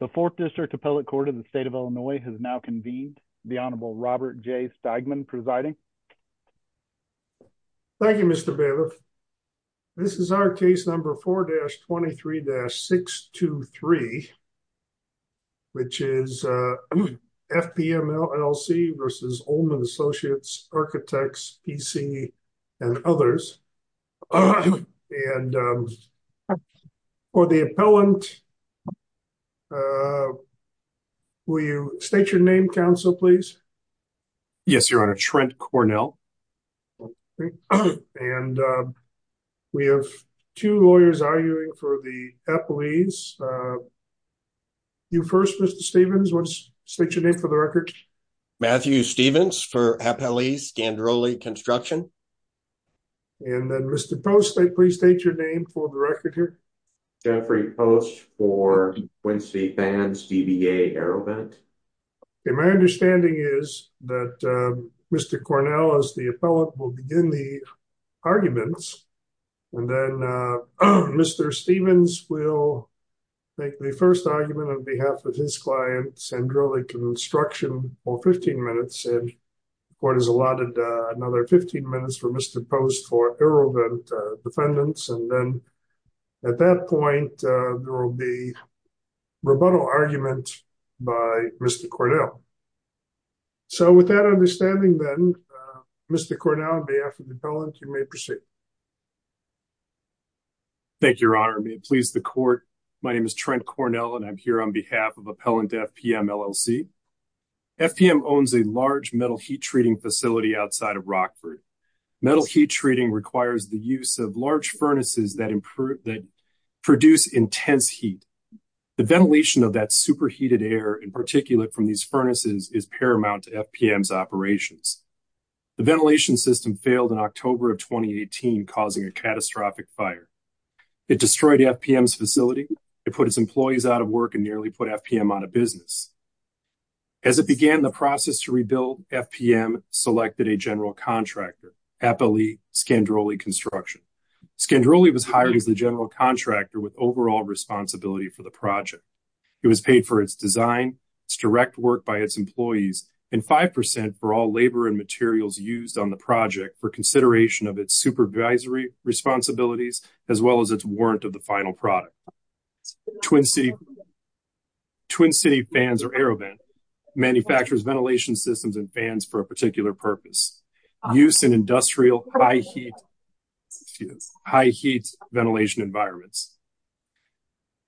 The Fourth District Appellate Court of the State of Illinois has now convened. The Honorable Robert J. Stegman presiding. Thank you, Mr. Bailiff. This is our case number 4-23-623, which is FPM, LLC versus Ollmann Associates Architects, PC, and others. And for the appellant, will you state your name, counsel, please? Yes, Your Honor. Trent Cornell. And we have two lawyers arguing for the appellees. You first, Mr. Stevens. State your name for the record. Matthew Stevens for appellees, Sandroli Construction. And then, Mr. Post, please state your name for the record here. Jeffrey Post for Quincy Fans, DBA Aerovent. Okay, my understanding is that Mr. Cornell, as the appellant, will begin the arguments. And then Mr. Stevens will make the first argument on behalf of his client, Sandroli Construction, for 15 minutes. And the court has allotted another 15 minutes for Mr. Post for aerovent defendants. And then at that point, there will be rebuttal argument by Mr. Cornell. So with that understanding then, Mr. Cornell, on behalf of the appellant, you may proceed. Thank you, Your Honor. May it please the court. My name is Trent Cornell, and I'm here on behalf of Appellant FPM, LLC. FPM owns a large metal heat treating facility outside of Rockford. Metal heat treating requires the use of large furnaces that produce intense heat. The ventilation of that superheated air, in particular from these furnaces, is paramount to FPM's operations. The ventilation system failed in October of 2018, causing a catastrophic fire. It destroyed FPM's facility. It put its employees out of work and nearly put FPM out of business. As it began the process to rebuild, FPM selected a general contractor, Appellee Sandroli Construction. Sandroli was hired as the general contractor with overall responsibility for the project. It was paid for its design, its direct work by its employees, and 5% for all labor and materials used on the project for consideration of its supervisory responsibilities, as well as its warrant of the final product. Twin City Fans, or AeroVent, manufactures ventilation systems and fans for a particular purpose. Use in industrial high heat ventilation environments.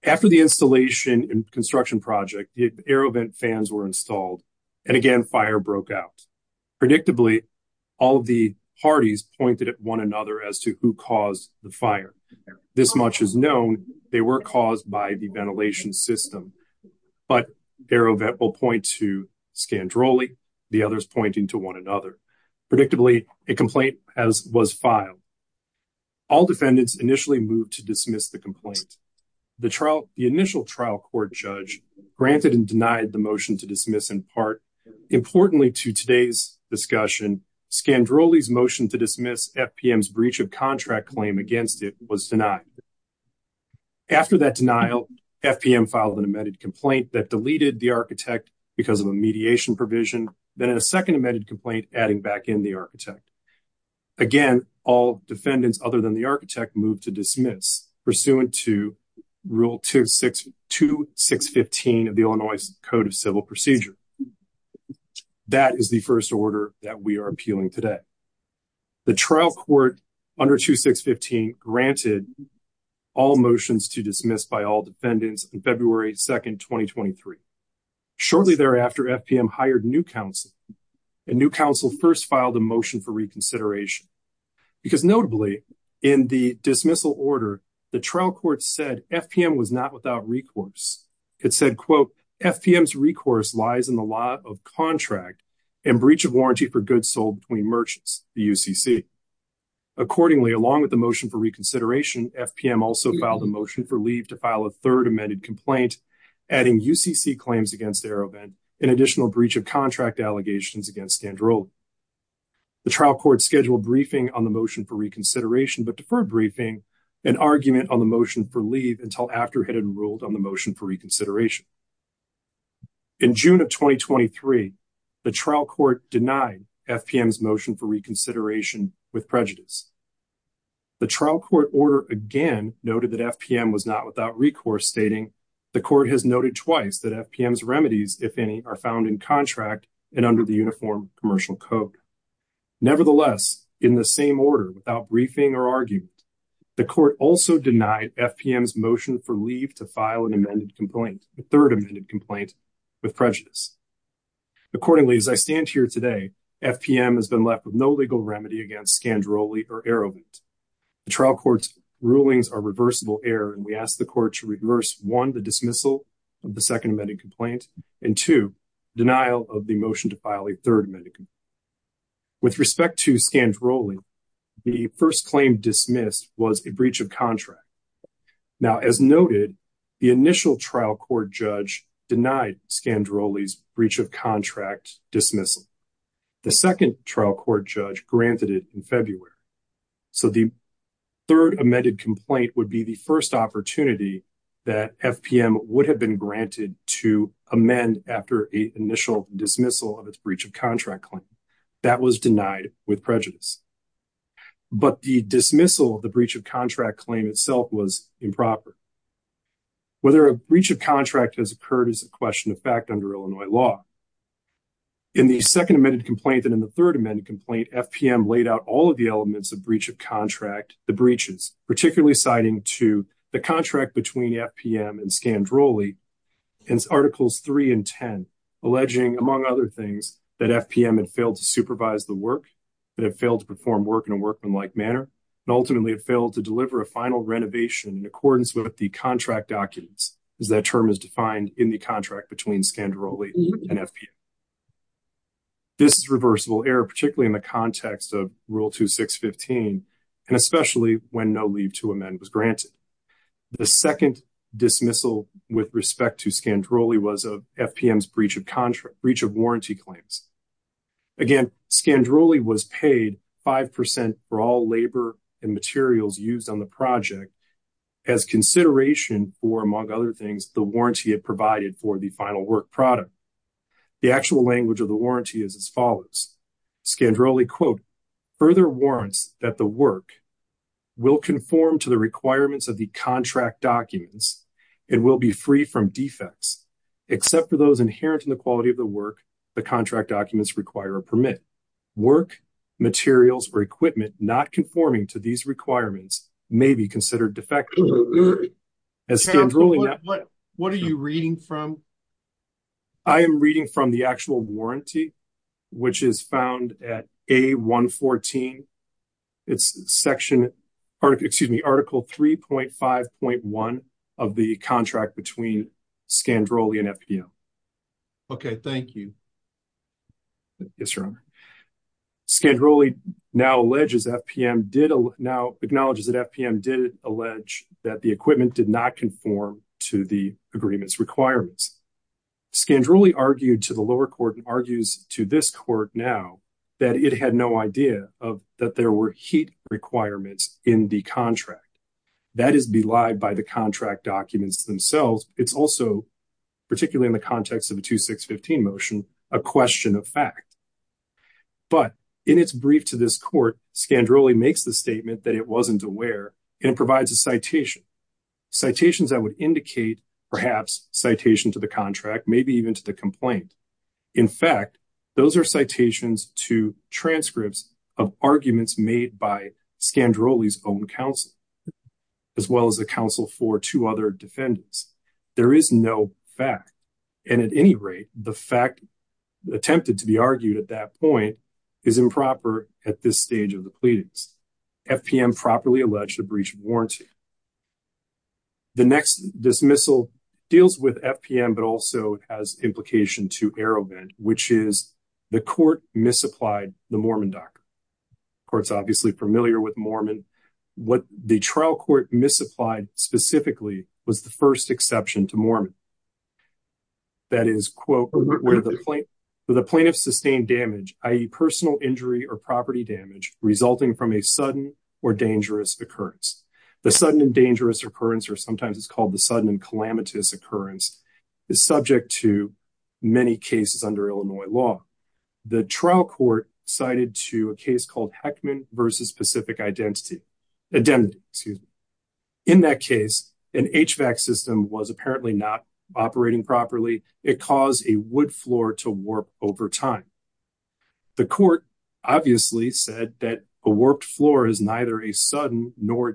After the installation and construction project, AeroVent fans were installed, and again fire broke out. Predictably, all of the parties pointed at one another as to who caused the fire. This much is known, they were caused by the ventilation system, but AeroVent will point to Sandroli, the others pointing to one another. Predictably, a complaint was filed. All defendants initially moved to dismiss the complaint. The initial trial court judge granted and denied the motion to dismiss in part. Importantly to today's discussion, Sandroli's motion to dismiss FPM's breach of contract claim against it was denied. After that denial, FPM filed an amended complaint that deleted the architect because of a mediation provision, then a second amended complaint adding back in the Rule 2615 of the Illinois Code of Civil Procedure. That is the first order that we are appealing today. The trial court under 2615 granted all motions to dismiss by all defendants on February 2nd, 2023. Shortly thereafter, FPM hired new counsel, and new counsel first filed a motion for reconsideration. Because notably, in the dismissal order, the trial court said FPM was not without recourse. It said, quote, FPM's recourse lies in the law of contract and breach of warranty for goods sold between merchants, the UCC. Accordingly, along with the motion for reconsideration, FPM also filed a motion for leave to file a third amended complaint, adding UCC claims against AeroVent, an additional breach of contract allegations against Sandroli. The trial court scheduled briefing on the motion for reconsideration, but deferred briefing and argument on the motion for leave until after it had ruled on the motion for reconsideration. In June of 2023, the trial court denied FPM's motion for reconsideration with prejudice. The trial court order again noted that FPM was not without recourse, stating, the court has noted twice that FPM's remedies, if any, are found in contract and under the Commercial Code. Nevertheless, in the same order, without briefing or argument, the court also denied FPM's motion for leave to file an amended complaint, a third amended complaint, with prejudice. Accordingly, as I stand here today, FPM has been left with no legal remedy against Sandroli or AeroVent. The trial court's rulings are reversible error, and we ask the court to reverse, one, the dismissal of the second amended complaint, and two, denial of the motion to file a third amended complaint. With respect to Sandroli, the first claim dismissed was a breach of contract. Now, as noted, the initial trial court judge denied Sandroli's breach of contract dismissal. The second trial court judge granted it in February. So, the third amended complaint would be the first opportunity that FPM would have been granted to amend after an initial dismissal of its breach of contract claim. That was denied with prejudice. But the dismissal of the breach of contract claim itself was improper. Whether a breach of contract has occurred is a question of fact under Illinois law. In the second amended complaint and in the third amended complaint, FPM laid out all of the elements of breach of contract, the breaches, particularly citing to the contract between FPM and Sandroli in Articles 3 and 10, alleging, among other things, that FPM had failed to supervise the work, that it failed to perform work in a workmanlike manner, and ultimately it failed to deliver a final renovation in accordance with the contract documents, as that term is defined in the contract between Sandroli and FPM. This is reversible error, particularly in the context of Rule 2615, and especially when no amendment was granted. The second dismissal with respect to Sandroli was of FPM's breach of contract, breach of warranty claims. Again, Sandroli was paid 5% for all labor and materials used on the project as consideration for, among other things, the warranty it provided for the final work product. The actual language of the warranty is as follows. Sandroli, quote, further warrants that the work will conform to the requirements of the contract documents and will be free from defects, except for those inherent in the quality of the work the contract documents require or permit. Work, materials, or equipment not conforming to these requirements may be considered defective. What are you reading from? I am reading from the actual warranty, which is found at A-114. It's section, excuse me, Article 3.5.1 of the contract between Sandroli and FPM. Okay, thank you. Yes, Your Honor. Sandroli now acknowledges that FPM did allege that the equipment did not conform to the agreement's requirements. Sandroli argued to the lower court and argues to this court now that it had no idea that there were heat requirements in the contract. That is belied by the contract documents themselves. It's also, particularly in the context of a 2-6-15 motion, a question of fact. But in its brief to this court, Sandroli makes the statement that it wasn't aware and provides a citation, citations that would indicate perhaps citation to the contract, maybe even to the complaint. In fact, those are citations to transcripts of arguments made by Sandroli's own counsel, as well as the counsel for two other defendants. There is no fact. And at any rate, the fact attempted to be argued at that point is improper at this stage of the pleadings. FPM properly alleged a breach of dismissal deals with FPM, but also has implication to Arrowhead, which is the court misapplied the Mormon doctrine. The court's obviously familiar with Mormon. What the trial court misapplied specifically was the first exception to Mormon. That is, quote, with a plaintiff's sustained damage, i.e. personal injury or property damage resulting from a sudden or dangerous occurrence. The sudden and dangerous occurrence, or sometimes it's called the sudden and calamitous occurrence, is subject to many cases under Illinois law. The trial court cited to a case called Heckman versus Pacific Identity. In that case, an HVAC system was apparently not operating properly. It caused a wood floor to warp over time. The court obviously said that a warped floor is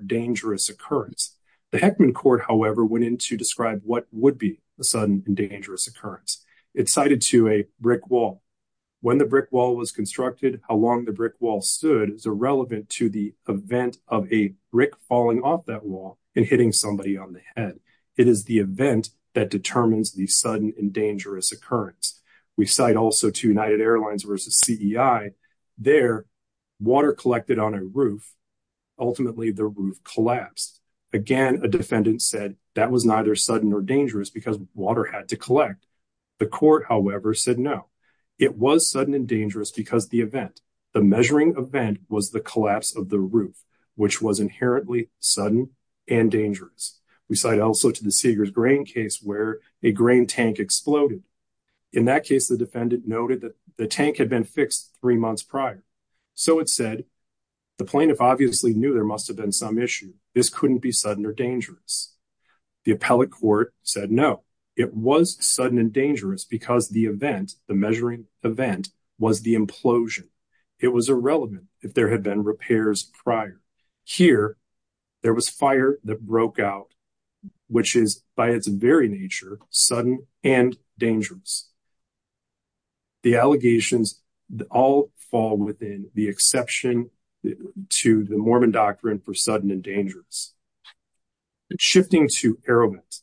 dangerous. The Heckman court, however, went in to describe what would be a sudden and dangerous occurrence. It cited to a brick wall. When the brick wall was constructed, how long the brick wall stood is irrelevant to the event of a brick falling off that wall and hitting somebody on the head. It is the event that determines the sudden and dangerous occurrence. We cite also to United Again, a defendant said that was neither sudden or dangerous because water had to collect. The court, however, said no. It was sudden and dangerous because the event, the measuring event, was the collapse of the roof, which was inherently sudden and dangerous. We cite also to the Seeger's grain case where a grain tank exploded. In that case, the defendant noted that the tank had been fixed three months prior. So, it said the plaintiff obviously knew there must have been some issue. This couldn't be sudden or dangerous. The appellate court said no. It was sudden and dangerous because the event, the measuring event, was the implosion. It was irrelevant if there had been repairs prior. Here, there was fire that broke out, which is, by its very nature, sudden and dangerous. The allegations all fall within the exception to the Mormon doctrine for sudden and dangerous. Shifting to AeroVent.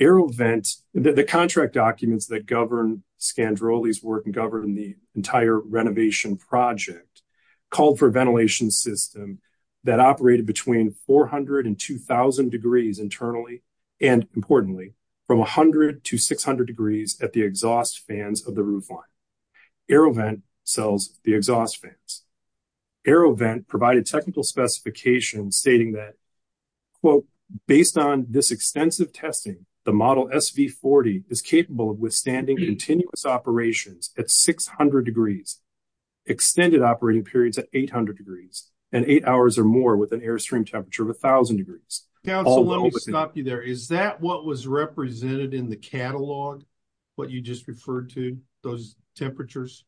AeroVent, the contract documents that govern Scandrolli's work and govern the entire renovation project, called for a ventilation system that operated between 400 and 2,000 degrees internally and, importantly, from 100 to 600 degrees at the exhaust fans of the roofline. AeroVent sells the exhaust fans. AeroVent provided technical specifications stating that, quote, based on this extensive testing, the model SV40 is capable of withstanding continuous operations at 600 degrees, extended operating periods at 800 degrees, and eight hours or more with an airstream temperature of 1,000 degrees. Counsel, let me stop you there. Is that what was represented in the catalog, what you just referred to, those temperatures?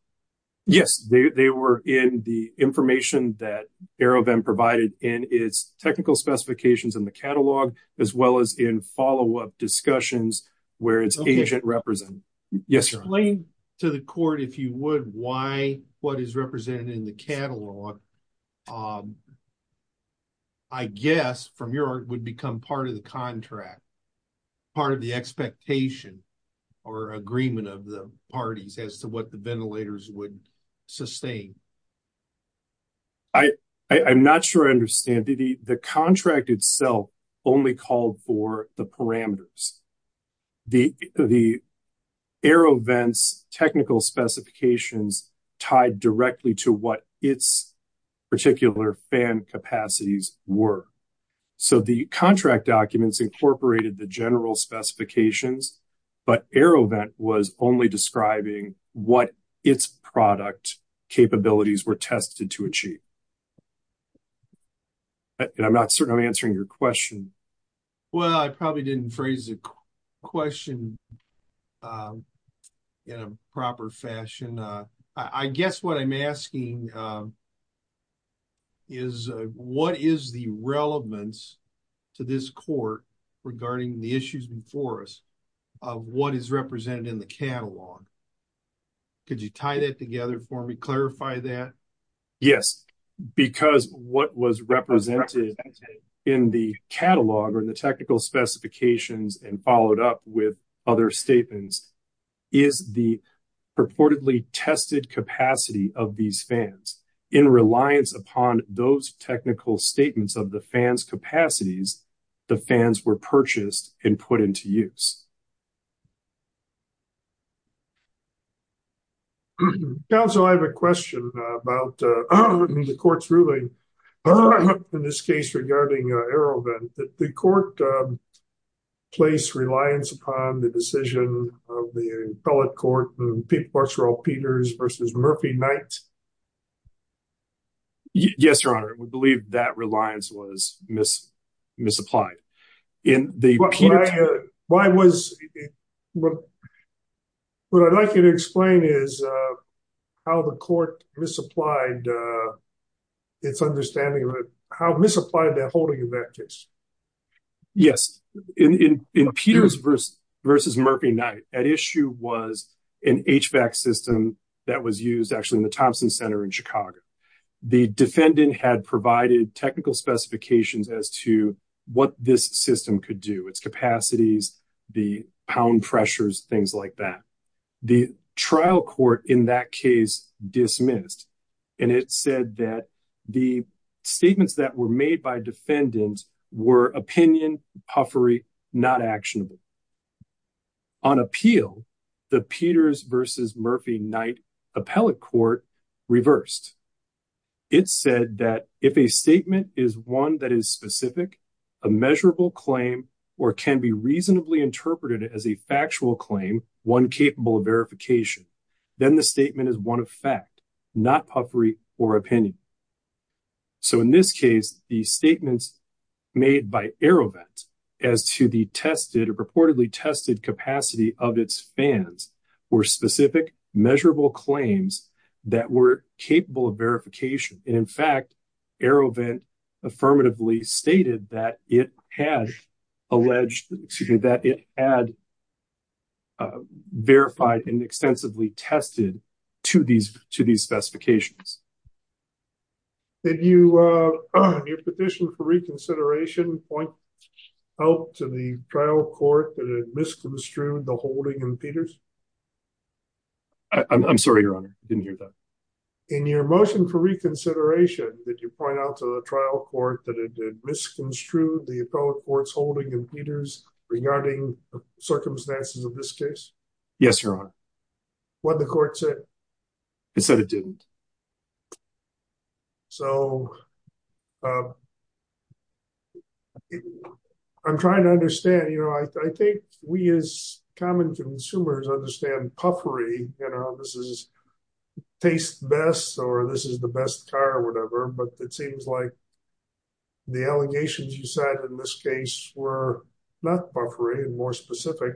Yes, they were in the information that AeroVent provided in its technical specifications in the catalog, as well as in follow-up discussions where its agent represented. Explain to the court, if you would, why what is represented in the or agreement of the parties as to what the ventilators would sustain? I'm not sure I understand. The contract itself only called for the parameters. The AeroVent's technical specifications tied directly to what its particular fan capacities were. So, the contract documents incorporated the general specifications, but AeroVent was only describing what its product capabilities were tested to achieve. I'm not certain I'm answering your question. Well, I probably didn't phrase the question in a proper fashion. I guess what I'm asking is, what is the relevance to this court regarding the issues before us of what is represented in the catalog? Could you tie that together for me, clarify that? Yes, because what was represented in the catalog or in the technical specifications and followed up with other statements is the purportedly tested capacity of these fans. In reliance upon those technical statements of the fan's capacities, the fans were purchased and put into use. Counsel, I have a question about the court's ruling in this case regarding AeroVent. The court placed reliance upon the decision of the appellate court, the people of Peters versus Murphy Knight. Yes, Your Honor. We believe that reliance was misapplied. What I'd like you to explain is how the court misapplied its understanding of how misapplied that holding effect is. Yes. In Peters versus Murphy Knight, at issue was an HVAC system that was used actually in the Thompson Center in Chicago. The defendant had provided technical specifications as to what this system could do, its capacities, the pound pressures, things like that. The trial court in that case dismissed. And it said that the statements that were made by defendants were opinion, puffery, not actionable. On appeal, the Peters versus Murphy Knight appellate court reversed. It said that if a statement is one that is specific, a measurable claim, or can be reasonably interpreted as a puffery or opinion. So in this case, the statements made by AeroVent as to the tested or reportedly tested capacity of its fans were specific measurable claims that were capable of verification. And in fact, AeroVent affirmatively stated that it had alleged that it had verified and extensively tested to these specifications. Did you, in your petition for reconsideration, point out to the trial court that it misconstrued the holding in Peters? I'm sorry, your honor. I didn't hear that. In your motion for reconsideration, did you point out to the trial court that it misconstrued the appellate court's holding in circumstances of this case? Yes, your honor. What the court said? It said it didn't. So, I'm trying to understand, you know, I think we as common consumers understand puffery, you know, this is taste best or this is the best car or whatever, but it seems like the allegations you said in this case were not puffery and more specific.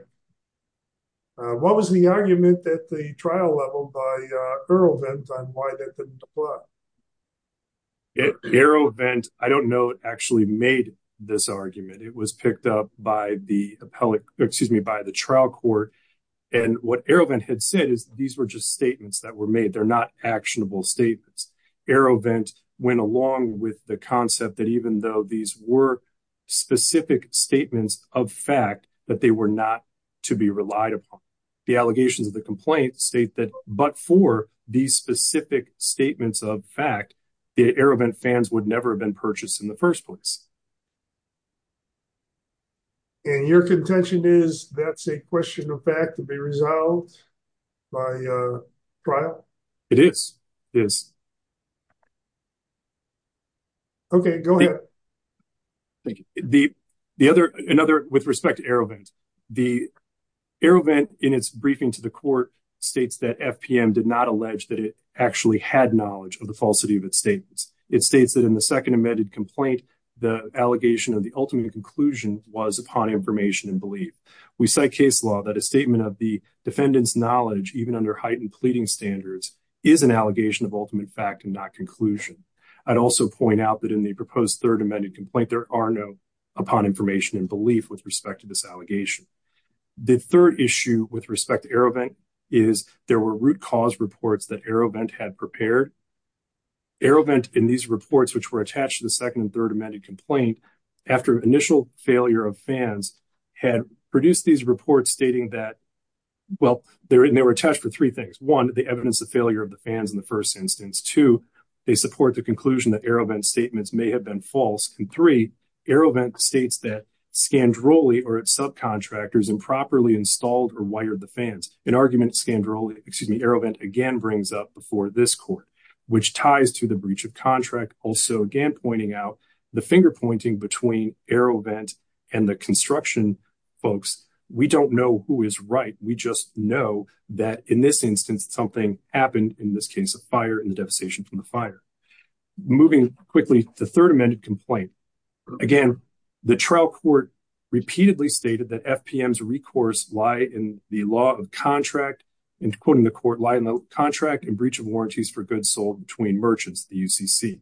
What was the argument at the trial level by AeroVent on why that didn't apply? AeroVent, I don't know, actually made this argument. It was picked up by the appellate, excuse me, by the trial court. And what AeroVent had said is these were just statements that were these were specific statements of fact that they were not to be relied upon. The allegations of the complaint state that but for these specific statements of fact, the AeroVent fans would never have been purchased in the first place. And your contention is that's a question of fact to be Thank you. The other another with respect to AeroVent, the AeroVent in its briefing to the court states that FPM did not allege that it actually had knowledge of the falsity of its statements. It states that in the second amended complaint, the allegation of the ultimate conclusion was upon information and belief. We cite case law that a statement of the defendant's knowledge even under heightened pleading standards is an allegation of ultimate fact and not There are no upon information and belief with respect to this allegation. The third issue with respect to AeroVent is there were root cause reports that AeroVent had prepared. AeroVent in these reports, which were attached to the second and third amended complaint, after initial failure of fans, had produced these reports stating that, well, they were attached for three things. One, the evidence of failure of the fans in the first instance. Two, they support the conclusion that AeroVent's statements may have been false. And three, AeroVent states that Scandrolli or its subcontractors improperly installed or wired the fans, an argument Scandrolli, excuse me, AeroVent again brings up before this court, which ties to the breach of contract. Also again, pointing out the finger pointing between AeroVent and the construction folks. We don't know who is right. We just know that in this instance, something happened in this case of fire and the devastation from the fire. Moving quickly, the third amended complaint. Again, the trial court repeatedly stated that FPM's recourse lie in the law of contract, and quoting the court, lie in the contract and breach of warranties for goods sold between merchants, the UCC.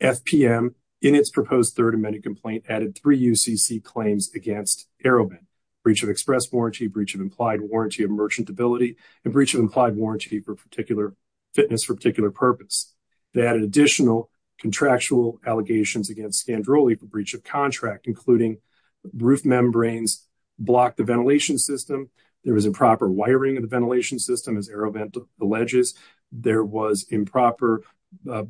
FPM, in its proposed third amended complaint, added three UCC claims against AeroVent. Breach of express warranty, breach of implied warranty of merchantability, and breach implied warranty for particular fitness for particular purpose. They added additional contractual allegations against Scandrolli for breach of contract, including roof membranes block the ventilation system. There was improper wiring of the ventilation system as AeroVent alleges. There was improper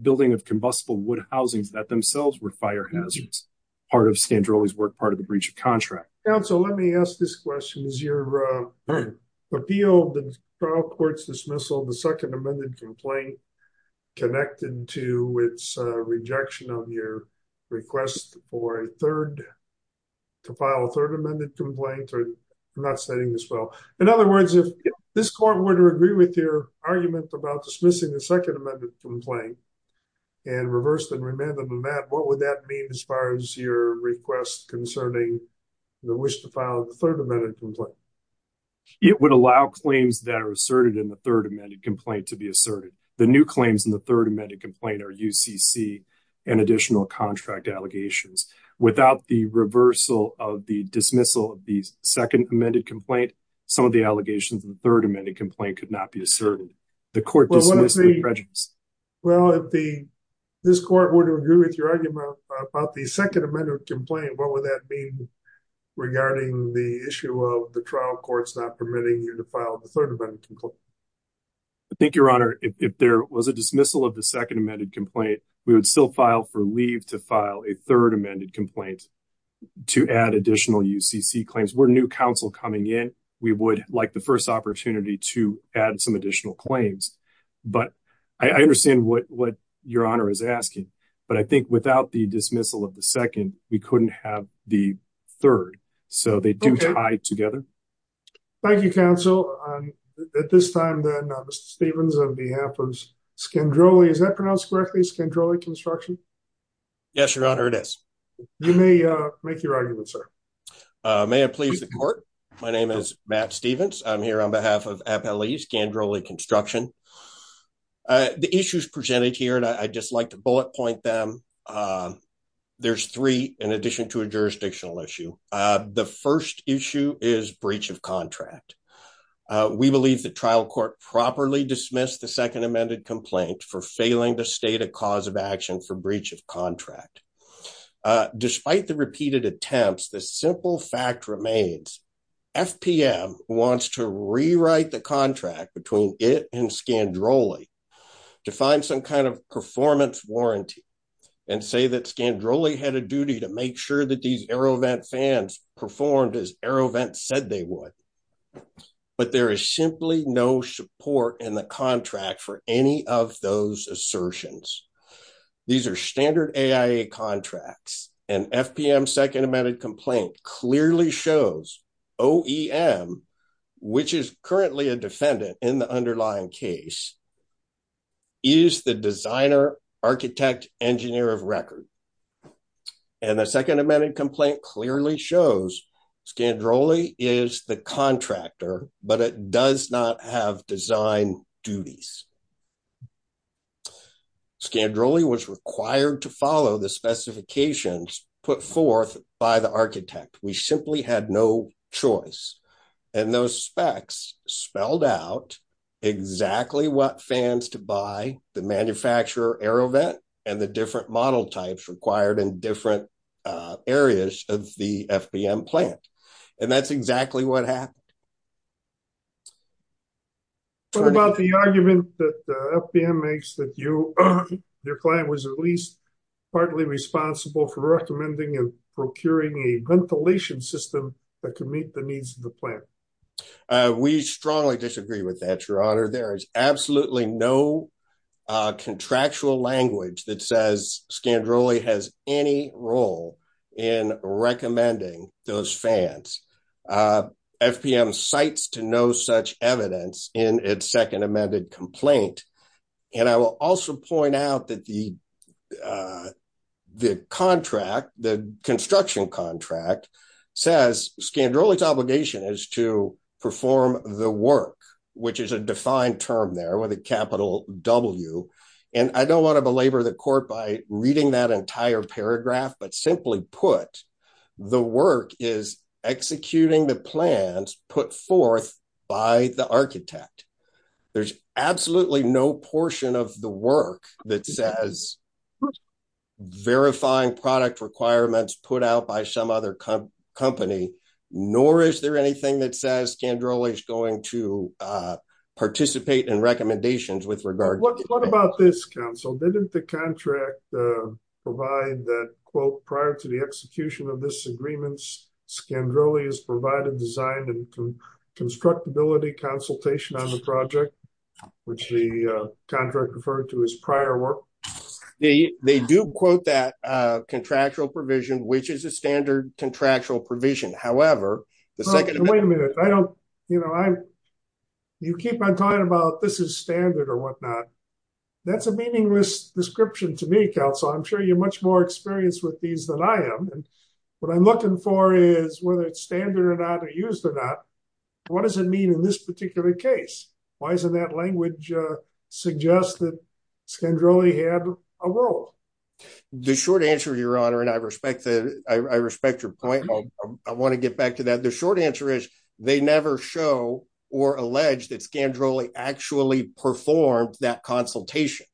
building of combustible wood housings that themselves were fire hazards. Part of Scandrolli's work, part of the breach of contract. Counsel, let me ask this question. Is your appeal of the trial court's dismissal of the second amended complaint connected to its rejection of your request for a third, to file a third amended complaint? I'm not studying this well. In other words, if this court were to agree with your argument about dismissing the second amended complaint and reversed and remanded the mat, what would that mean as far as your request concerning the wish to file the third amended complaint? It would allow claims that are asserted in the third amended complaint to be asserted. The new claims in the third amended complaint are UCC and additional contract allegations. Without the reversal of the dismissal of the second amended complaint, some of the allegations in the third amended complaint could not be asserted. The court dismissed the prejudice. Well, if this court were to agree with your argument about the second amended complaint, what would that mean regarding the issue of the trial courts not permitting you to file the third amended complaint? I think your honor, if there was a dismissal of the second amended complaint, we would still file for leave to file a third amended complaint to add additional UCC claims. We're new counsel coming in. We would like the first opportunity to add some additional claims, but I understand what your asking. But I think without the dismissal of the second, we couldn't have the third. So they do tie together. Thank you, counsel. At this time, then, Mr. Stevens, on behalf of Scandrolli, is that pronounced correctly? Scandrolli Construction? Yes, your honor, it is. You may make your argument, sir. May it please the court. My name is Matt Stevens. I'm here on behalf of Appellee Scandrolli Construction. The issues presented here, and I'd just like to bullet point them. There's three in addition to a jurisdictional issue. The first issue is breach of contract. We believe the trial court properly dismissed the second amended complaint for failing to state a cause of action for breach of contract. Despite the repeated attempts, the simple fact remains FPM wants to rewrite the contract between it and Scandrolli to find some kind of performance warranty and say that Scandrolli had a duty to make sure that these AeroVent fans performed as AeroVent said they would. But there is simply no support in the contract for any of those OEM, which is currently a defendant in the underlying case, is the designer architect engineer of record. And the second amended complaint clearly shows Scandrolli is the contractor, but it does not have design duties. Scandrolli was required to follow the specifications put forth by the architect. We simply had no choice. And those specs spelled out exactly what fans to buy, the manufacturer AeroVent, and the different model types required in different areas of the FPM plant. And that's exactly what happened. What about the argument that FPM makes that your client was at least partly responsible for procuring a ventilation system that could meet the needs of the plant? We strongly disagree with that, your honor. There is absolutely no contractual language that says Scandrolli has any role in recommending those fans. FPM cites to no such evidence in its second construction contract, says Scandrolli's obligation is to perform the work, which is a defined term there with a capital W. And I don't want to belabor the court by reading that entire paragraph, but simply put, the work is executing the plans put forth by the architect. There's no such requirement put out by some other company, nor is there anything that says Scandrolli is going to participate in recommendations with regard to that. What about this, counsel? Didn't the contract provide that quote, prior to the execution of this agreements, Scandrolli has provided design and constructability consultation on the project, which the contract referred to as prior work. They do quote that contractual provision, which is a standard contractual provision. However, the second... Wait a minute. I don't, you know, you keep on talking about this is standard or whatnot. That's a meaningless description to me, counsel. I'm sure you're much more experienced with these than I am. And what I'm looking for is whether it's standard or not or used or not, what does it mean in this particular case? Why isn't that language suggest that Scandrolli had a role? The short answer, your honor, and I respect that. I respect your point. I want to get back to that. The short answer is they never show or allege that Scandrolli actually performed that consultation.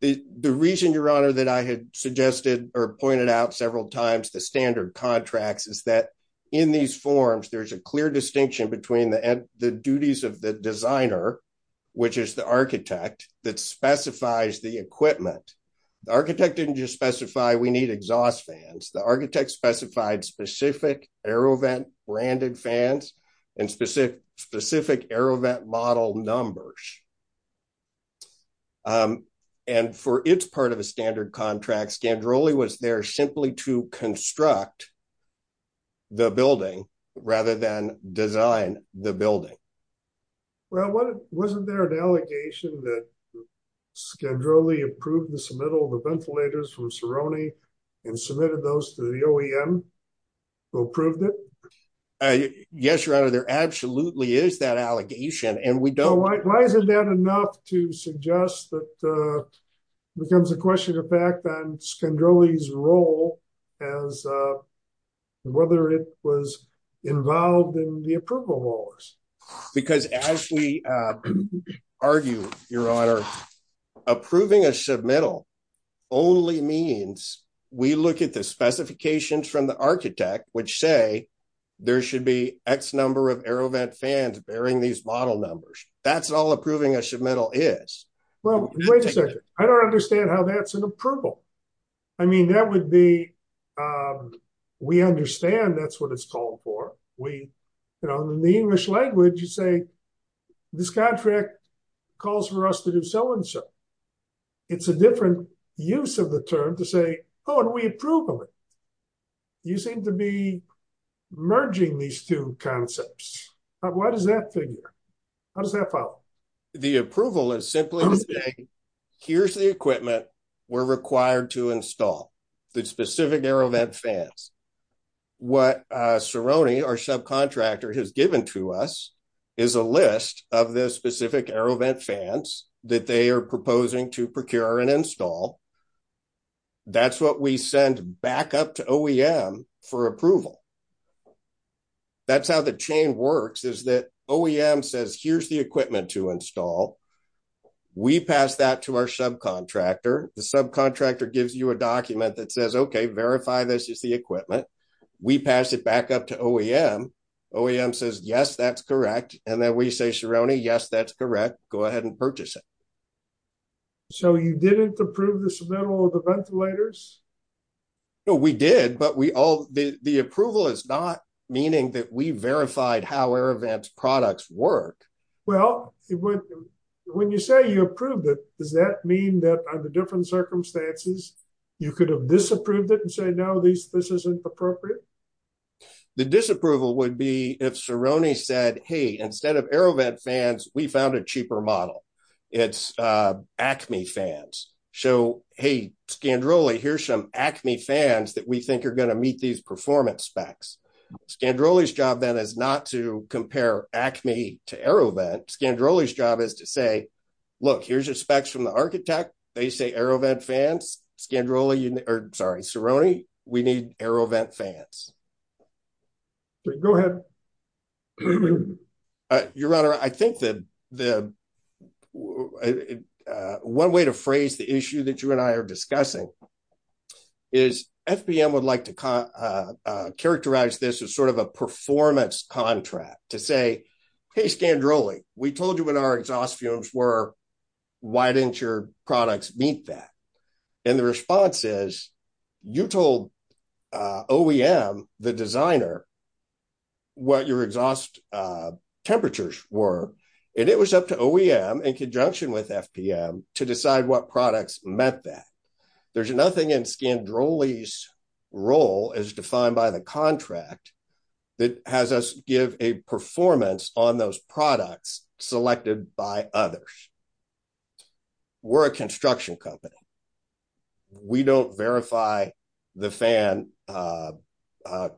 The reason, your honor, that I had suggested or pointed out several times, the standard contracts is that in these forms, there's a clear distinction between the duties of the designer, which is the architect that specifies the equipment. The architect didn't just specify we need exhaust fans. The architect specified specific AeroVent branded fans and specific AeroVent model numbers. And for its part of a standard contract, Scandrolli was there simply to construct the building rather than design the building. Well, wasn't there an allegation that Scandrolli approved the submittal of the ventilators from Cerrone and submitted those to the OEM who approved it? Yes, your honor, there absolutely is that allegation and we don't- Why isn't that enough to suggest that becomes a question of fact on Scandrolli's role as whether it was involved in the approval laws? Because as we argue, your honor, approving a submittal only means we look at the specifications from the architect which say there should be X number of AeroVent fans bearing these model numbers. That's all approving a submittal is. Well, wait a second. I don't understand how that's an approval. I mean, that would be, we understand that's what it's called for. In the English language, you say this contract calls for us to do so and so. It's a different use of the term to say, oh, and we approve of it. You seem to be merging these two concepts. Why does that figure? How does that follow? The approval is simply to say, here's the equipment we're required to install, the specific AeroVent fans. What Cerrone, our subcontractor, has given to us is a list of the specific AeroVent fans that they are proposing to procure and install. That's what we send back up to OEM for approval. That's how the chain works is that OEM says, here's the equipment to install. We pass that to our subcontractor. The subcontractor gives you a document that says, okay, verify this is the equipment. We pass it back up to OEM. OEM says, yes, that's correct. And then we say, Cerrone, yes, that's correct. Go ahead and purchase it. So you didn't approve the submittal of the ventilators? No, we did, but the approval is not that we verified how AeroVent products work. Well, when you say you approved it, does that mean that under different circumstances, you could have disapproved it and say, no, this isn't appropriate? The disapproval would be if Cerrone said, hey, instead of AeroVent fans, we found a cheaper model. It's Acme fans. So, hey, Scandrola, here's some Acme fans that we think are going to be better. Scandrola's job then is not to compare Acme to AeroVent. Scandrola's job is to say, look, here's your specs from the architect. They say AeroVent fans, Scandrola, or sorry, Cerrone, we need AeroVent fans. Go ahead. Your Honor, I think the one way to phrase the issue that you and I are discussing is FPM would like to characterize this as sort of a performance contract to say, hey, Scandrola, we told you when our exhaust fumes were, why didn't your products meet that? And the response is, you told OEM, the designer, what your exhaust temperatures were, and it was up to OEM in conjunction with FPM to decide what products met that. There's nothing in Scandrola's role as defined by the contract that has us give a performance on those products selected by others. We're a construction company. We don't verify the fan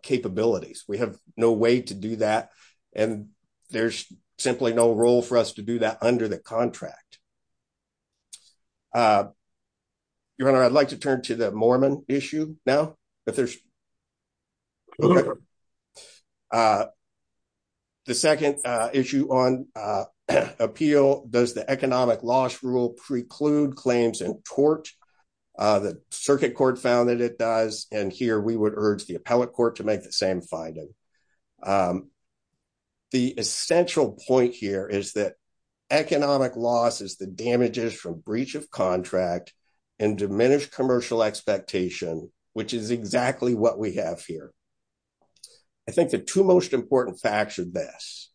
capabilities. We have no way to do that, and there's simply no role for us to do that under the contract. Your Honor, I'd like to turn to the Mormon issue now. The second issue on appeal, does the economic loss rule preclude claims in tort? The circuit court found that it does, and here we would urge the appellate court to make the same finding. The essential point here is that economic loss is the damages from breach of contract and diminished commercial expectation, which is exactly what we have here. I think the two most important facts are this.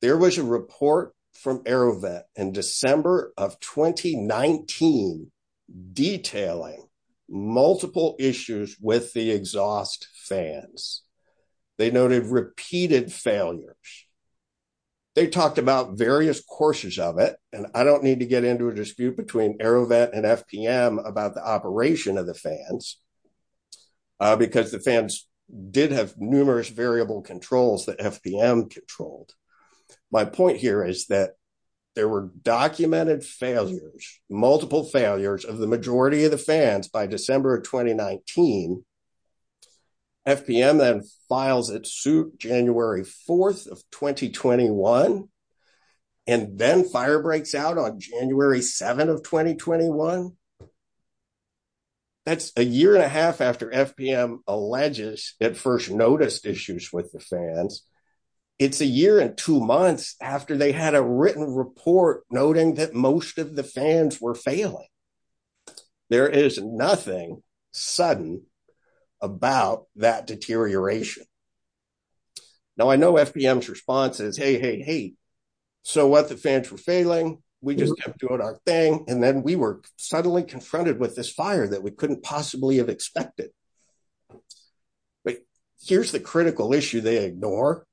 There was a report from AeroVet in December of 2019 detailing multiple issues with the exhaust fans. They noted repeated failures. They talked about various courses of it, and I don't need to get into a dispute between AeroVet and FPM about the operation of the fans, because the fans did numerous variable controls that FPM controlled. My point here is that there were documented failures, multiple failures, of the majority of the fans by December of 2019. FPM then files its suit January 4th of 2021, and then fire breaks out on January 7th of 2021. That's a year and a half after FPM alleges it first noticed issues with the fans. It's a year and two months after they had a written report noting that most of the fans were failing. There is nothing sudden about that deterioration. Now, I know FPM's response is, hey, so what? The fans were failing. We just kept doing our thing, and then we were suddenly confronted with this fire that we couldn't possibly have expected. Here's the critical issue they ignore.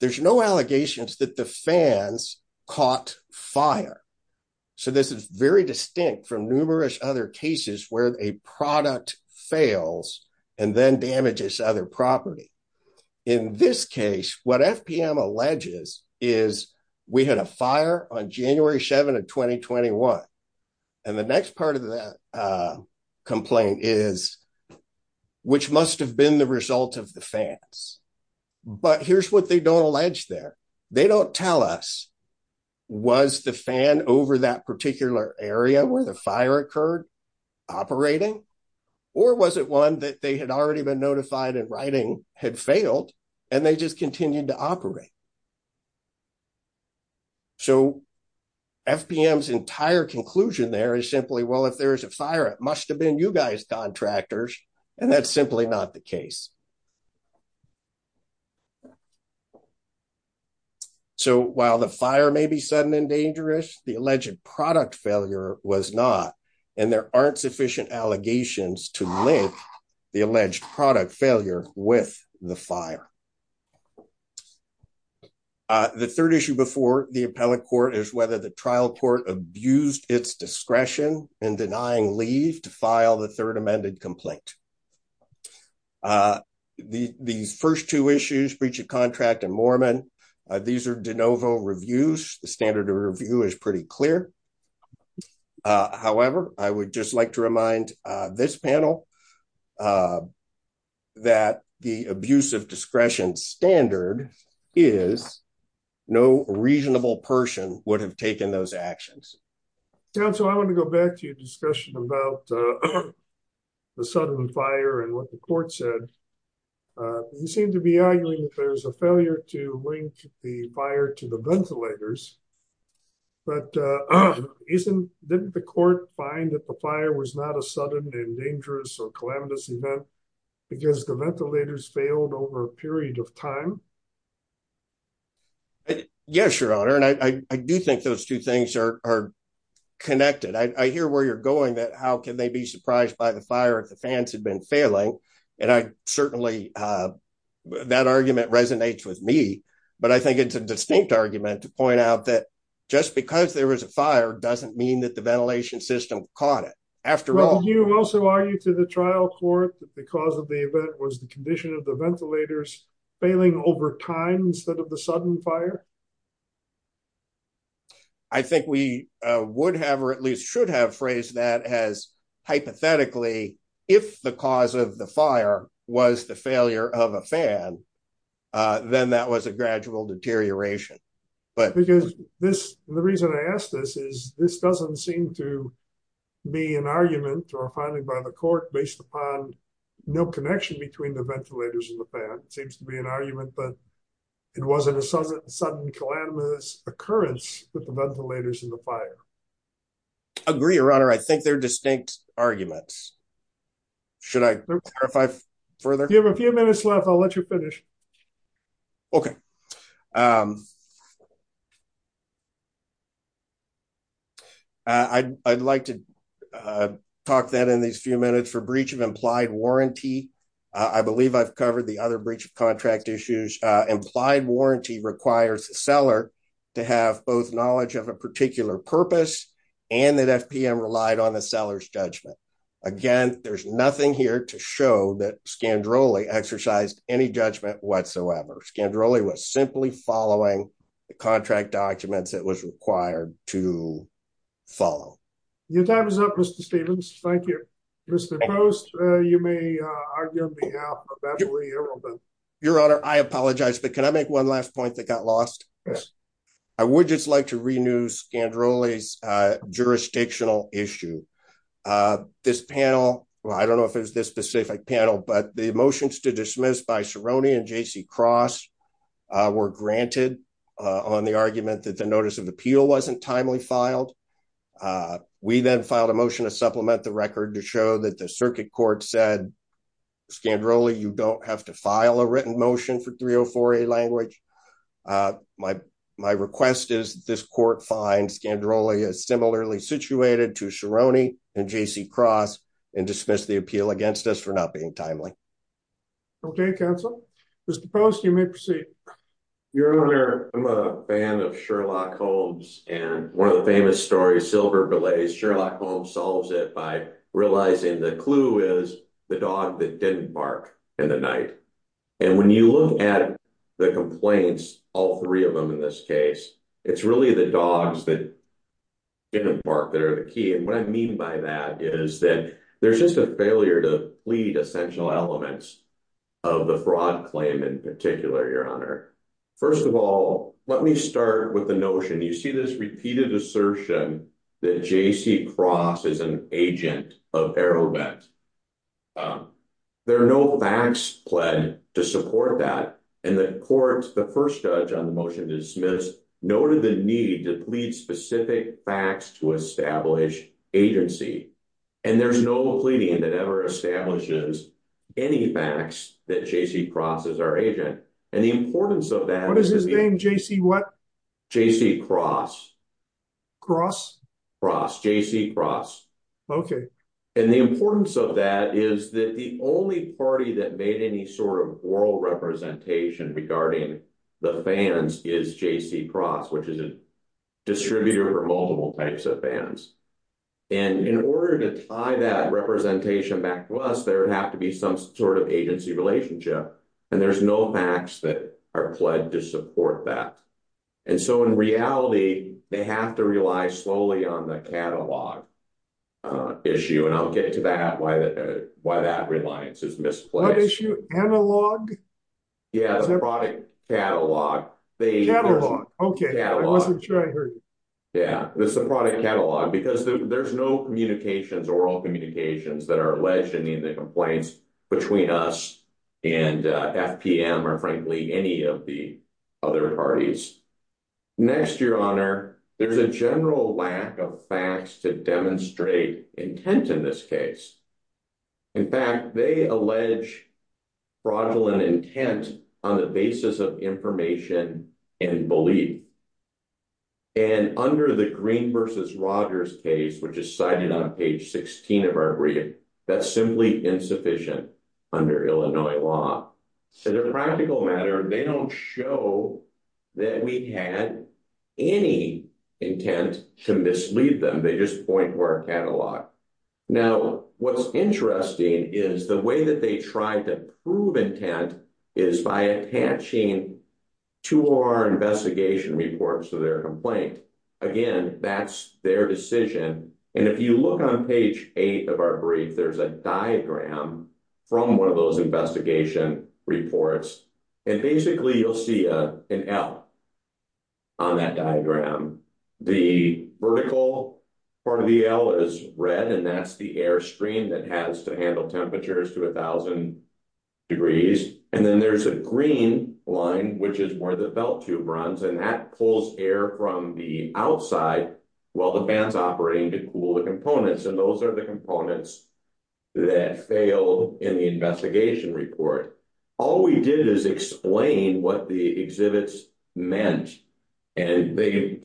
There's no allegations that the fans caught fire. This is very distinct from numerous other cases where a product fails and then damages other property. In this case, what FPM alleges is, we had a fire on January 7th of 2021. The next part of that complaint is, which must have been the result of the fans. But here's what they don't allege there. They don't tell us, was the fan over that particular area where the fire occurred operating, or was it one that they had already been notified and writing had failed, and they just continued to operate? FPM's entire conclusion there is simply, well, if there's a fire, it must have been you guys, contractors. That's simply not the case. While the fire may be sudden and dangerous, the alleged product failure was not, and there aren't sufficient allegations to link the alleged product failure with the fire. The third issue before the appellate court is whether the trial court abused its discretion in denying leave to file the third amended complaint. These first two issues, breach of contract and Moorman, these are de novo reviews. The standard of review is pretty clear. However, I would just like to remind this panel that the abuse of discretion standard is no reasonable person would have taken those actions. Council, I want to go back to your discussion about the sudden fire and what the court said. They seem to be arguing that there's a failure to link the fire to the ventilators, but didn't the court find that the fire was not a sudden and dangerous or calamitous event because the ventilators failed over a period of time? Yes, your honor, and I do think those two things are connected. I hear where you're going that how can they be surprised by the fire if the fans had been failing, and certainly that argument resonates with me, but I think it's a distinct argument to point out that just because there was a fire doesn't mean that the ventilation system caught it. After all, you also argue to the trial court that the cause of the event was the condition of the ventilators failing over time instead of the sudden fire. I think we would have or at least should have phrased that as hypothetically, if the cause of the fire was the failure of a fan, then that was a gradual deterioration. The reason I ask this is this doesn't seem to be an argument or a finding by the court based upon no connection between the ventilators and the fan. It seems to be an argument that it wasn't a sudden calamitous occurrence with the ventilators and the fire. Agree, your honor. I think they're distinct arguments. Should I clarify further? You have a few minutes left. I'll let you finish. Okay. I'd like to talk that in these few minutes for breach of implied warranty. I believe I've covered the other breach of contract issues. Implied warranty requires a seller to have both knowledge of a particular purpose and that FPM relied on the seller's judgment. Again, there's nothing here to show that Scandroli exercised any judgment whatsoever. Scandroli was simply following the contract documents that was required to follow. Your time is up, Mr. Stevens. Thank you. Mr. Post, you may argue on behalf of Beverly Irwin. Your honor, I apologize, but can I make one last point that got lost? I would just like to renew Scandroli's jurisdictional issue. This panel, I don't know if it was this specific panel, but the motions to dismiss by Cerrone and J.C. Cross were granted on the argument that the notice of appeal wasn't timely filed. We then filed a motion to supplement the record to show that the circuit court said, Scandroli, you don't have to file a written motion for 304A language. My request is that this court find Scandroli as similarly situated to Cerrone and J.C. Cross and dismiss the appeal against us for not being timely. Okay, counsel. Mr. Post, you may proceed. Your honor, I'm a fan of Sherlock Holmes and one of the famous stories, Silver Belay, Sherlock Holmes solves it by realizing the clue is the dog that didn't bark in the night. When you look at the complaints, all three of them in this case, it's really the dogs that didn't bark that are the key. What I mean by that is that there's just a failure to plead essential elements of the fraud claim in particular, your honor. First of all, let me start with the notion. You see this repeated assertion that J.C. Cross is an agent of Aerobent. There are no facts pled to support that. The first judge on the motion to dismiss noted the need to plead specific facts to establish agency. There's no pleading that ever establishes any facts that J.C. Cross is our agent. The importance of that- J.C. what? J.C. Cross. Cross? Cross. J.C. Cross. Okay. And the importance of that is that the only party that made any sort of oral representation regarding the fans is J.C. Cross, which is a distributor for multiple types of fans. And in order to tie that representation back to us, there would have to be some agency relationship. And there's no facts that are pled to support that. And so in reality, they have to rely slowly on the catalog issue. And I'll get to that, why that reliance is misplaced. J.C. What issue? Analog? J.C. Yeah. The product catalog. J.C. Catalog. Okay. I wasn't sure I heard. J.C. Yeah. There's a product catalog because there's no communications, oral communications that are alleged in the complaints between us and FPM or frankly, any of the other parties. Next, Your Honor, there's a general lack of facts to demonstrate intent in this case. In fact, they allege fraudulent intent on the basis of information and belief. And under the Green versus Rogers case, which is cited on page 16 of our brief, that's simply insufficient under Illinois law. So the practical matter, they don't show that we had any intent to mislead them. They just point to our catalog. Now, what's interesting is the way that they tried to prove intent is by attaching two of our investigation reports to their complaint. Again, that's their decision. And if you look on page eight of our brief, there's a diagram from one of those investigation reports. And basically, you'll see an L on that diagram. The vertical part of the L is red, and that's the air stream that has to handle temperatures to 1,000 degrees. And then there's a green line, which is where the belt tube runs, and that pulls air from the outside while the band's operating to cool the components. And those are the components that failed in the investigation report. All we did is explain what the exhibits meant. And they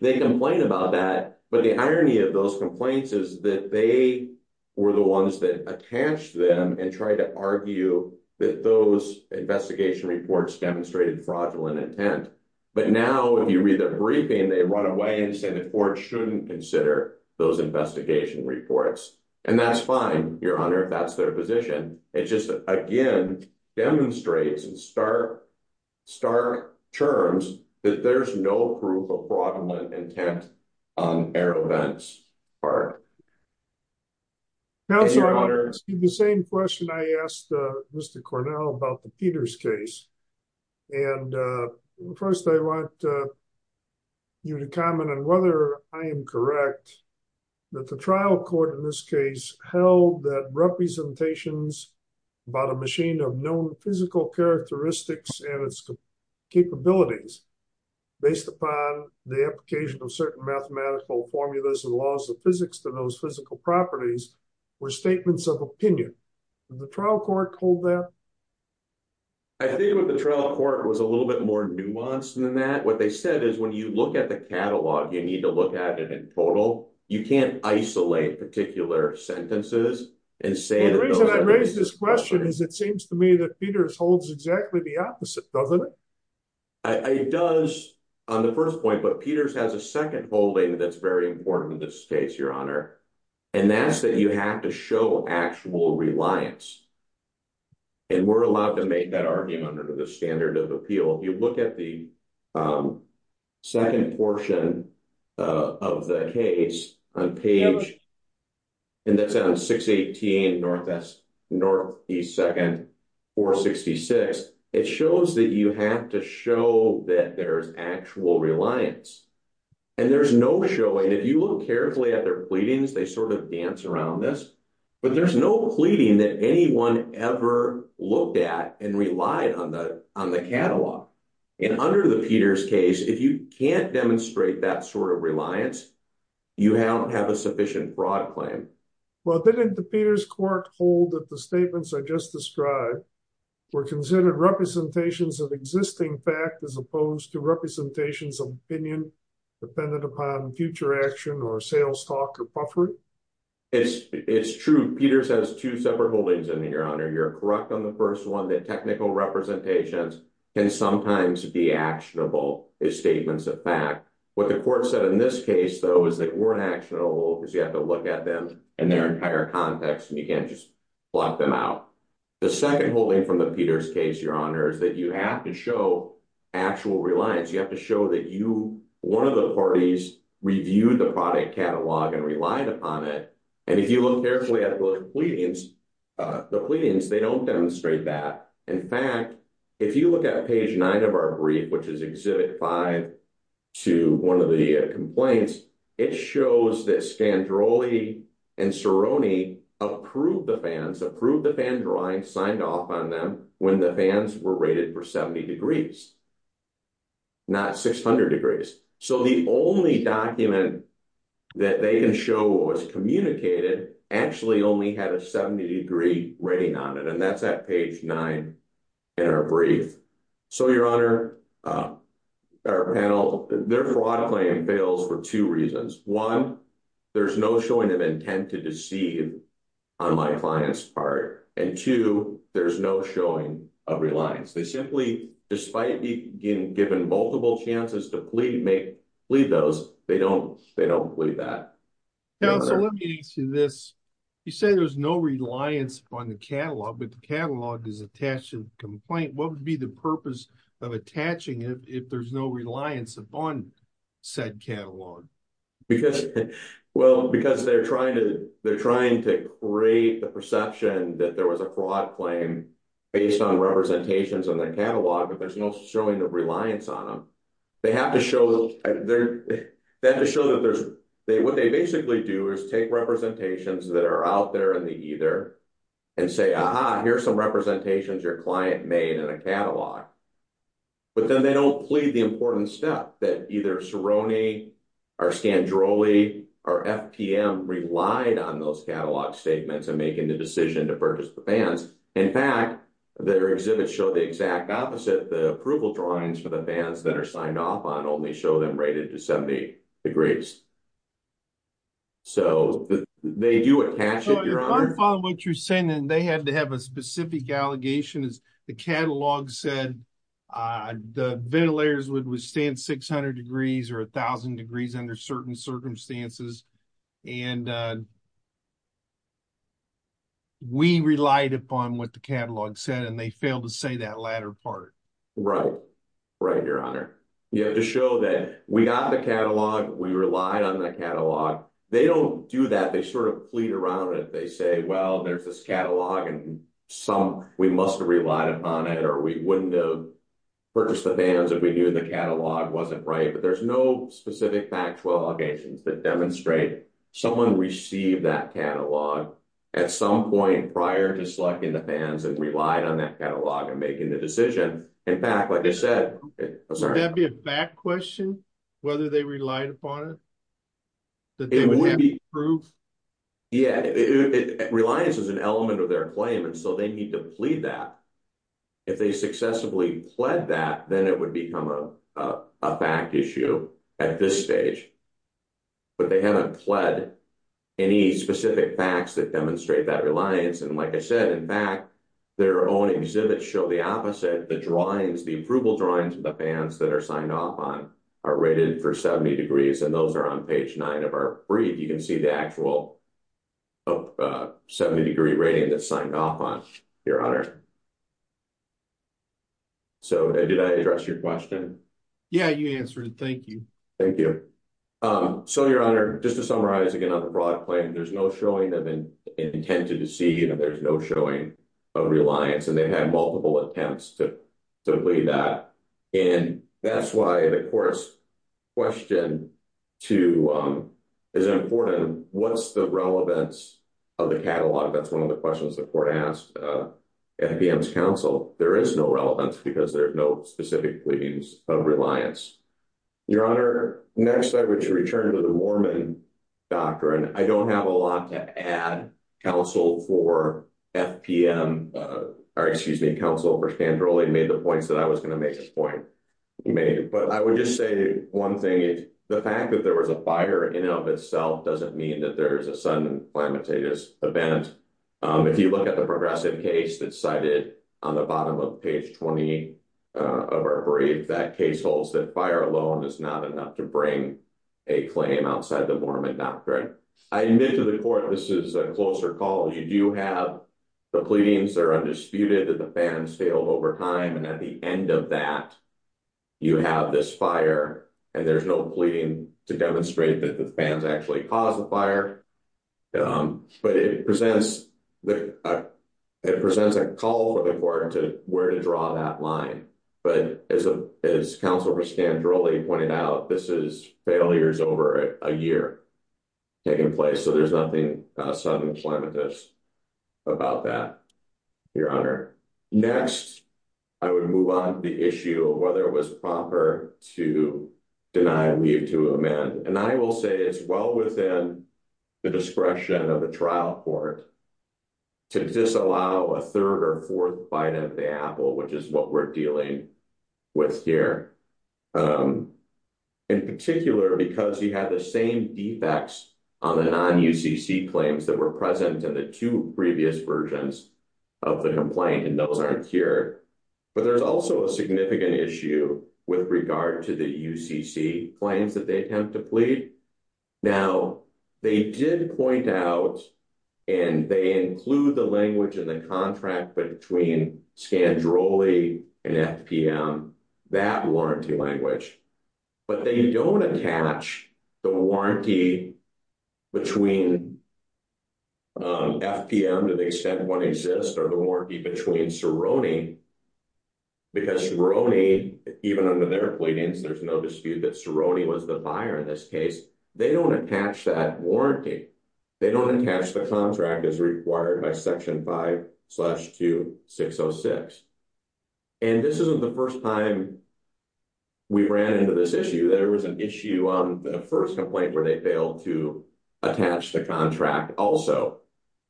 complain about that. But the irony of those complaints is that they were the ones that attached them and tried to argue that those investigation reports demonstrated fraudulent intent. But now, if you read their briefing, they run away and say the court shouldn't consider those investigation reports. And that's fine, Your Honor, if that's their position. It just, again, demonstrates in stark terms that there's no proof of fraudulent intent on air events, or... Counselor, I received the same question I asked Mr. Cornell about the Peters case. And first, I want you to comment on whether I am correct that the trial court in this case held that representations about a machine of known physical characteristics and its capabilities, based upon the application of certain mathematical formulas and laws of physics to those physical properties, were statements of opinion. Did the trial court hold that? I think what the trial court was a little bit more nuanced than that. What they said is when you look at the catalog, you need to look at it in total. You can't isolate particular sentences and say... The reason I raised this question is it seems to me that Peters holds exactly the opposite, doesn't it? It does on the first point, but Peters has a second holding that's very important in this case, Your Honor, and that's that you have to show actual reliance. And we're allowed to make that argument under the standard of appeal. If you look at the second portion of the case on page... Northeast 2nd, 466, it shows that you have to show that there's actual reliance. And there's no showing. If you look carefully at their pleadings, they sort of dance around this, but there's no pleading that anyone ever looked at and relied on the catalog. And under the Peters case, if you can't demonstrate that sort of reliance, you don't have a sufficient broad claim. Well, didn't the Peters court hold that the statements I just described were considered representations of existing fact as opposed to representations of opinion dependent upon future action or sales talk or puffery? It's true. Peters has two separate holdings in there, Your Honor. You're correct on the first one that technical representations can sometimes be actionable as statements of fact. What the in their entire context, and you can't just block them out. The second holding from the Peters case, Your Honor, is that you have to show actual reliance. You have to show that one of the parties reviewed the product catalog and relied upon it. And if you look carefully at the pleadings, they don't demonstrate that. In fact, if you look at page nine of our brief, which is exhibit five to one of the complaints, it shows that Scandrolli and Ceroni approved the fans, approved the fan drawing, signed off on them when the fans were rated for 70 degrees, not 600 degrees. So the only document that they can show what was communicated actually only had 70 degree rating on it. And that's at page nine in our brief. So, Your Honor, our panel, their fraud claim fails for two reasons. One, there's no showing of intent to deceive on my client's part. And two, there's no showing of reliance. They simply, despite being given multiple chances to plead those, they don't plead that. Now, so let me ask you this. You say there's no reliance on the catalog, but the catalog is attached to the complaint. What would be the purpose of attaching it if there's no reliance upon said catalog? Well, because they're trying to create the perception that there was a fraud claim based on representations on their catalog, but there's no showing of reliance on them. They have to show that there's, what they basically do is take representations that are out there in the ether and say, aha, here's some representations your client made in a catalog. But then they don't plead the important stuff that either Ceroni or Scandroli or FPM relied on those catalog statements and making the decision to purchase the fans. In fact, their signed off on only show them rated to 70 degrees. So they do attach it, your honor. I'm following what you're saying. And they had to have a specific allegation is the catalog said the ventilators would withstand 600 degrees or a thousand degrees under certain circumstances. And we relied upon what the catalog said, and they failed to say that latter part. Right. Right, your honor. You have to show that we got the catalog. We relied on the catalog. They don't do that. They sort of plead around it. They say, well, there's this catalog and some, we must have relied upon it, or we wouldn't have purchased the fans if we knew the catalog wasn't right. But there's no specific factual allegations that demonstrate someone received that catalog at some point prior to selecting the fans and relied on that catalog and making the decision. In fact, like I said, that'd be a back question, whether they relied upon it, that it would be proof. Yeah. Reliance is an element of their claim. And so they need to plead that if they successfully pled that, then it would become a fact issue at this stage. But they haven't pled any specific facts that demonstrate that reliance. And like I said, in fact, their own exhibits show the opposite. The drawings, the approval drawings of the fans that are signed off on are rated for 70 degrees. And those are on page nine of our brief. You can see the actual 70 degree rating that's signed off on, your honor. So did I address your question? Yeah, you answered it. Thank you. Thank you. So your honor, just to summarize again on the broad claim, there's no showing that they intended to see, you know, there's no showing of reliance and they've had multiple attempts to, to believe that. And that's why the court's question to, is important. What's the relevance of the catalog? That's one of the questions the court asked at IBM's counsel. There is no relevance because there are no specific pleadings of reliance. Your honor, next I would return to the Mormon doctrine. I don't have a lot to add. Counsel for FPM, or excuse me, counsel for Scandrolli made the points that I was going to make at this point. He made it, but I would just say one thing is the fact that there was a fire in and of itself doesn't mean that there is a sudden and flammatious event. If you look at the progressive case that's cited on the bottom of page 20 of our brief, that case holds that fire alone is not enough to bring a claim outside the Mormon doctrine. I admit to the court, this is a closer call. You do have the pleadings are undisputed that the fans failed over time. And at the end of that, you have this fire and there's no pleading to demonstrate that the fans actually caused the fire. But it presents, it presents a call for the court to draw that line. But as counsel for Scandrolli pointed out, this is failures over a year taking place. So there's nothing sudden and flammatious about that, your honor. Next, I would move on to the issue of whether it was proper to deny leave to a man. And I will say it's well within the discretion of the trial court to disallow a third or fourth bite of the apple, which is what we're dealing with here. In particular, because he had the same defects on the non-UCC claims that were present in the two previous versions of the complaint, and those aren't here. But there's also a significant issue with regard to the UCC claims that they attempt to plead. Now, they did point out and they include the language in the contract between Scandrolli and FPM, that warranty language. But they don't attach the warranty between FPM to the extent one exists or the warranty between Cerrone. Because Cerrone, even under their pleadings, there's no dispute that Cerrone was the buyer in this case. They don't attach that warranty. They don't attach the contract as required by Section 5-2-606. And this isn't the first time we ran into this issue. There was an issue on the first complaint where they failed to attach the contract also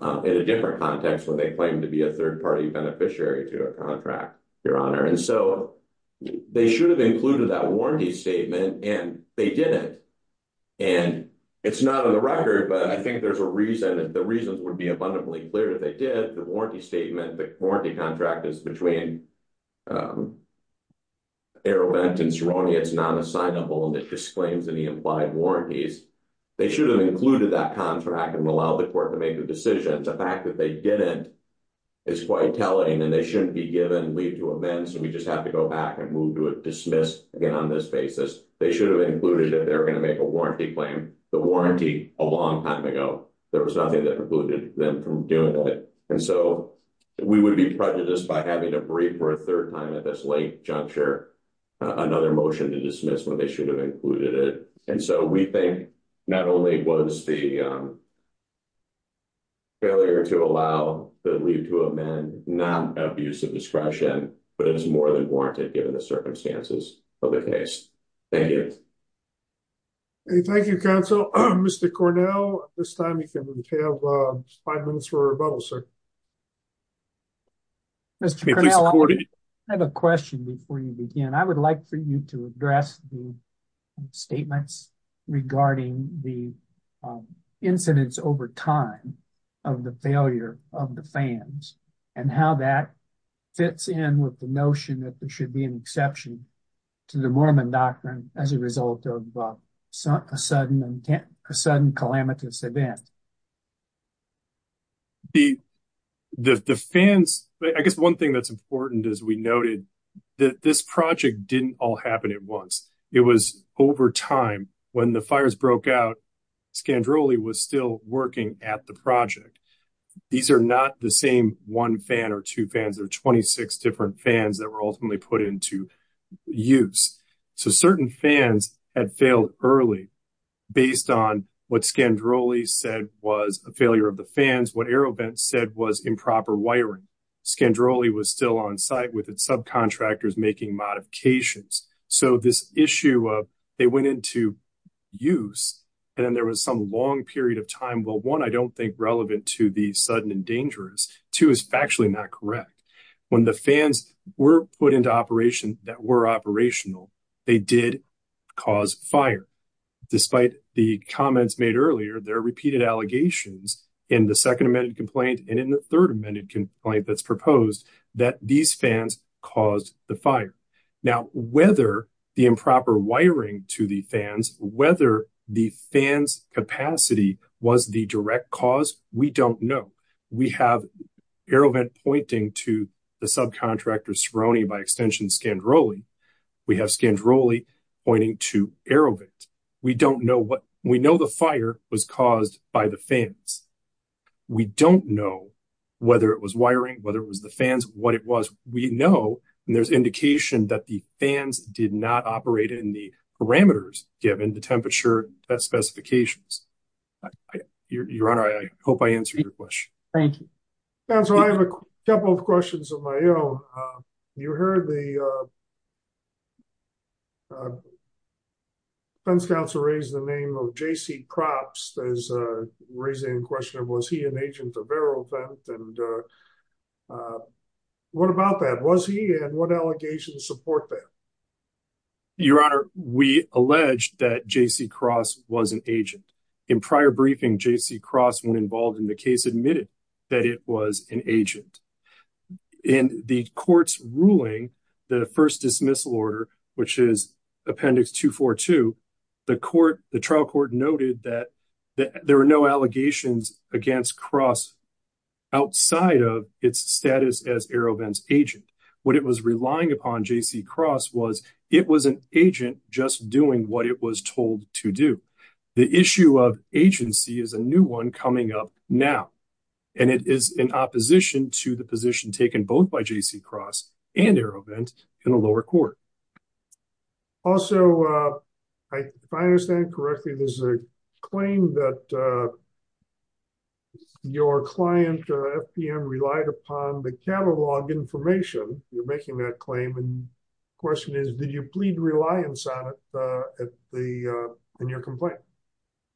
in a different context when they claimed to be a third-party beneficiary to a contract, Your Honor. And so, they should have included that warranty statement and they didn't. And it's not on the record, but I think the reasons would be abundantly clear that they did. The warranty statement, the warranty contract is between Aerovent and Cerrone. It's non-assignable and it disclaims any implied warranties. They should have included that contract and allowed the court to make the decision. The fact that they didn't is quite telling and they shouldn't be given leave to amend. So, we just have to go back and move to a dismiss again on this basis. They should have included that they were going to make a warranty claim, the warranty, a long time ago. There was nothing that precluded them from doing it. And so, we would be prejudiced by having to brief for a third time at this late juncture another motion to dismiss when they should have included it. And so, we think not only was the failure to allow the leave to amend not abuse of discretion, but it was more than warranted given the circumstances of the case. Thank you. Thank you, counsel. Mr. Cornell, this time you can have five minutes for rebuttal, sir. Mr. Cornell, I have a question before you begin. I would like for you to address the statements regarding the incidents over time of the failure of the fans and how that fits in with the notion that there should be an exception to the Mormon doctrine as a result of a sudden and sudden calamitous event. I guess one thing that's important as we noted that this project didn't all happen at once. It was over time. When the fires broke out, Scandroli was still working at the project. These are not the same one fan or two fans. There are 26 different fans that were ultimately put into use. So, certain fans had failed early based on what Scandroli said was a failure of the fans, what Aerobent said was improper wiring. Scandroli was still on site with its subcontractors making modifications. So, this issue of they went into use and then there was some long period of time, one, I don't think relevant to the sudden and dangerous, two, is factually not correct. When the fans were put into operation that were operational, they did cause fire. Despite the comments made earlier, there are repeated allegations in the second amended complaint and in the third amended complaint that's proposed that these fans caused the fire. Now, whether the improper wiring to the fans, whether the fans capacity was the direct cause, we don't know. We have Aerobent pointing to the subcontractor Scaroni by extension Scandroli. We have Scandroli pointing to Aerobent. We know the fire was caused by the fans. We don't know whether it was wiring, whether it was the fans, what it was. We know and there's indication that the fans did not operate in the parameters given the temperature specifications. Your Honor, I hope I answered your question. Thank you. Counselor, I have a couple of questions of my own. You heard the defense counsel raise the name of J.C. Propst as raising the question, was he an agent of Aerobent and what about that? Was he and what allegations support that? Your Honor, we alleged that J.C. Propst was an agent. In prior briefing, J.C. Propst, when involved in the case, admitted that it was an agent. In the court's ruling, the first dismissal order, which is appendix 242, the trial court noted that there were no outside of its status as Aerobent's agent. What it was relying upon J.C. Propst was it was an agent just doing what it was told to do. The issue of agency is a new one coming up now and it is in opposition to the position taken both by J.C. Propst and Aerobent in the lower court. Also, if I understand correctly, there's a claim that your client, FPM, relied upon the catalog information. You're making that claim and the question is, did you plead reliance on it in your complaint?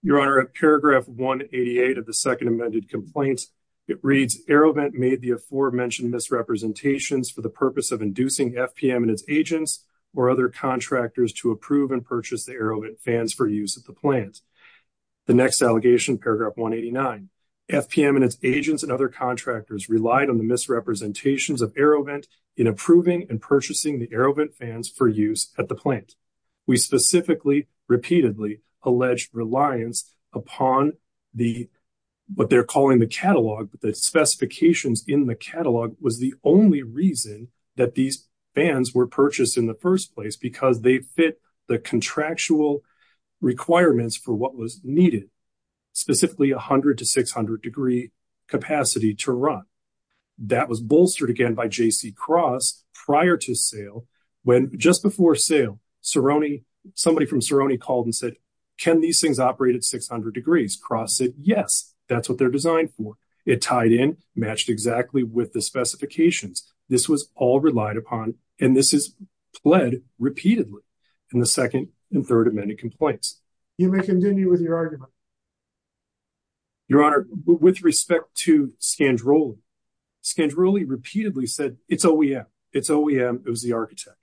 Your Honor, at paragraph 188 of the second amended complaint, it reads, Aerobent made the or other contractors to approve and purchase the Aerobent fans for use at the plant. The next allegation, paragraph 189, FPM and its agents and other contractors relied on the misrepresentations of Aerobent in approving and purchasing the Aerobent fans for use at the plant. We specifically, repeatedly, alleged reliance upon the, what they're calling the catalog, the specifications in the catalog was the only reason that these fans were purchased in the first place because they fit the contractual requirements for what was needed, specifically 100 to 600 degree capacity to run. That was bolstered again by J.C. Kross prior to sale when just before sale, Cerrone, somebody from Cerrone called and said, can these things operate at 600 degrees? Kross said, yes, that's what they're designed for. It tied in, matched exactly with the specifications. This was all relied upon and this is pled repeatedly in the second and third amended complaints. You may continue with your argument. Your Honor, with respect to Scandrolli, Scandrolli repeatedly said it's OEM, it's OEM, it was the architect.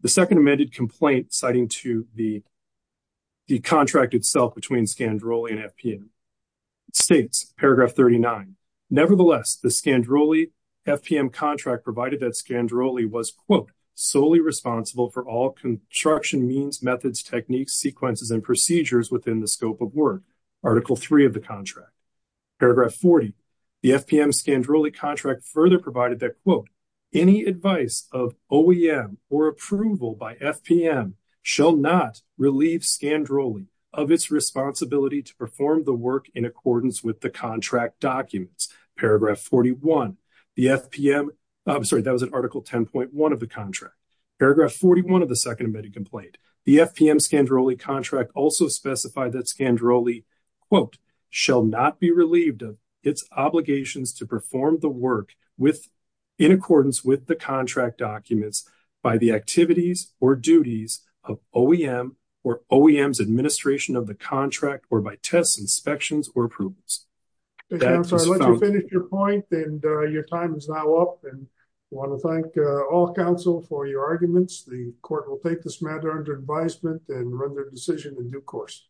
The second amended complaint citing to the contract itself between Scandrolli and FPM states, paragraph 39, nevertheless, the Scandrolli FPM contract provided that Scandrolli was, quote, solely responsible for all construction means, methods, techniques, sequences, and procedures within the scope of work, article three of the contract. Paragraph 40, the FPM Scandrolli contract further provided that, quote, any advice of OEM or in accordance with the contract documents. Paragraph 41, the FPM, sorry, that was an article 10.1 of the contract. Paragraph 41 of the second amended complaint, the FPM Scandrolli contract also specified that Scandrolli, quote, shall not be relieved of its obligations to perform the work in accordance with the contract documents by the activities or duties of OEM or OEM's administration of the contract or by tests, inspections, or approvals. I'll let you finish your point, and your time is now up, and I want to thank all counsel for your arguments. The court will take this matter under advisement and run their decision in due course.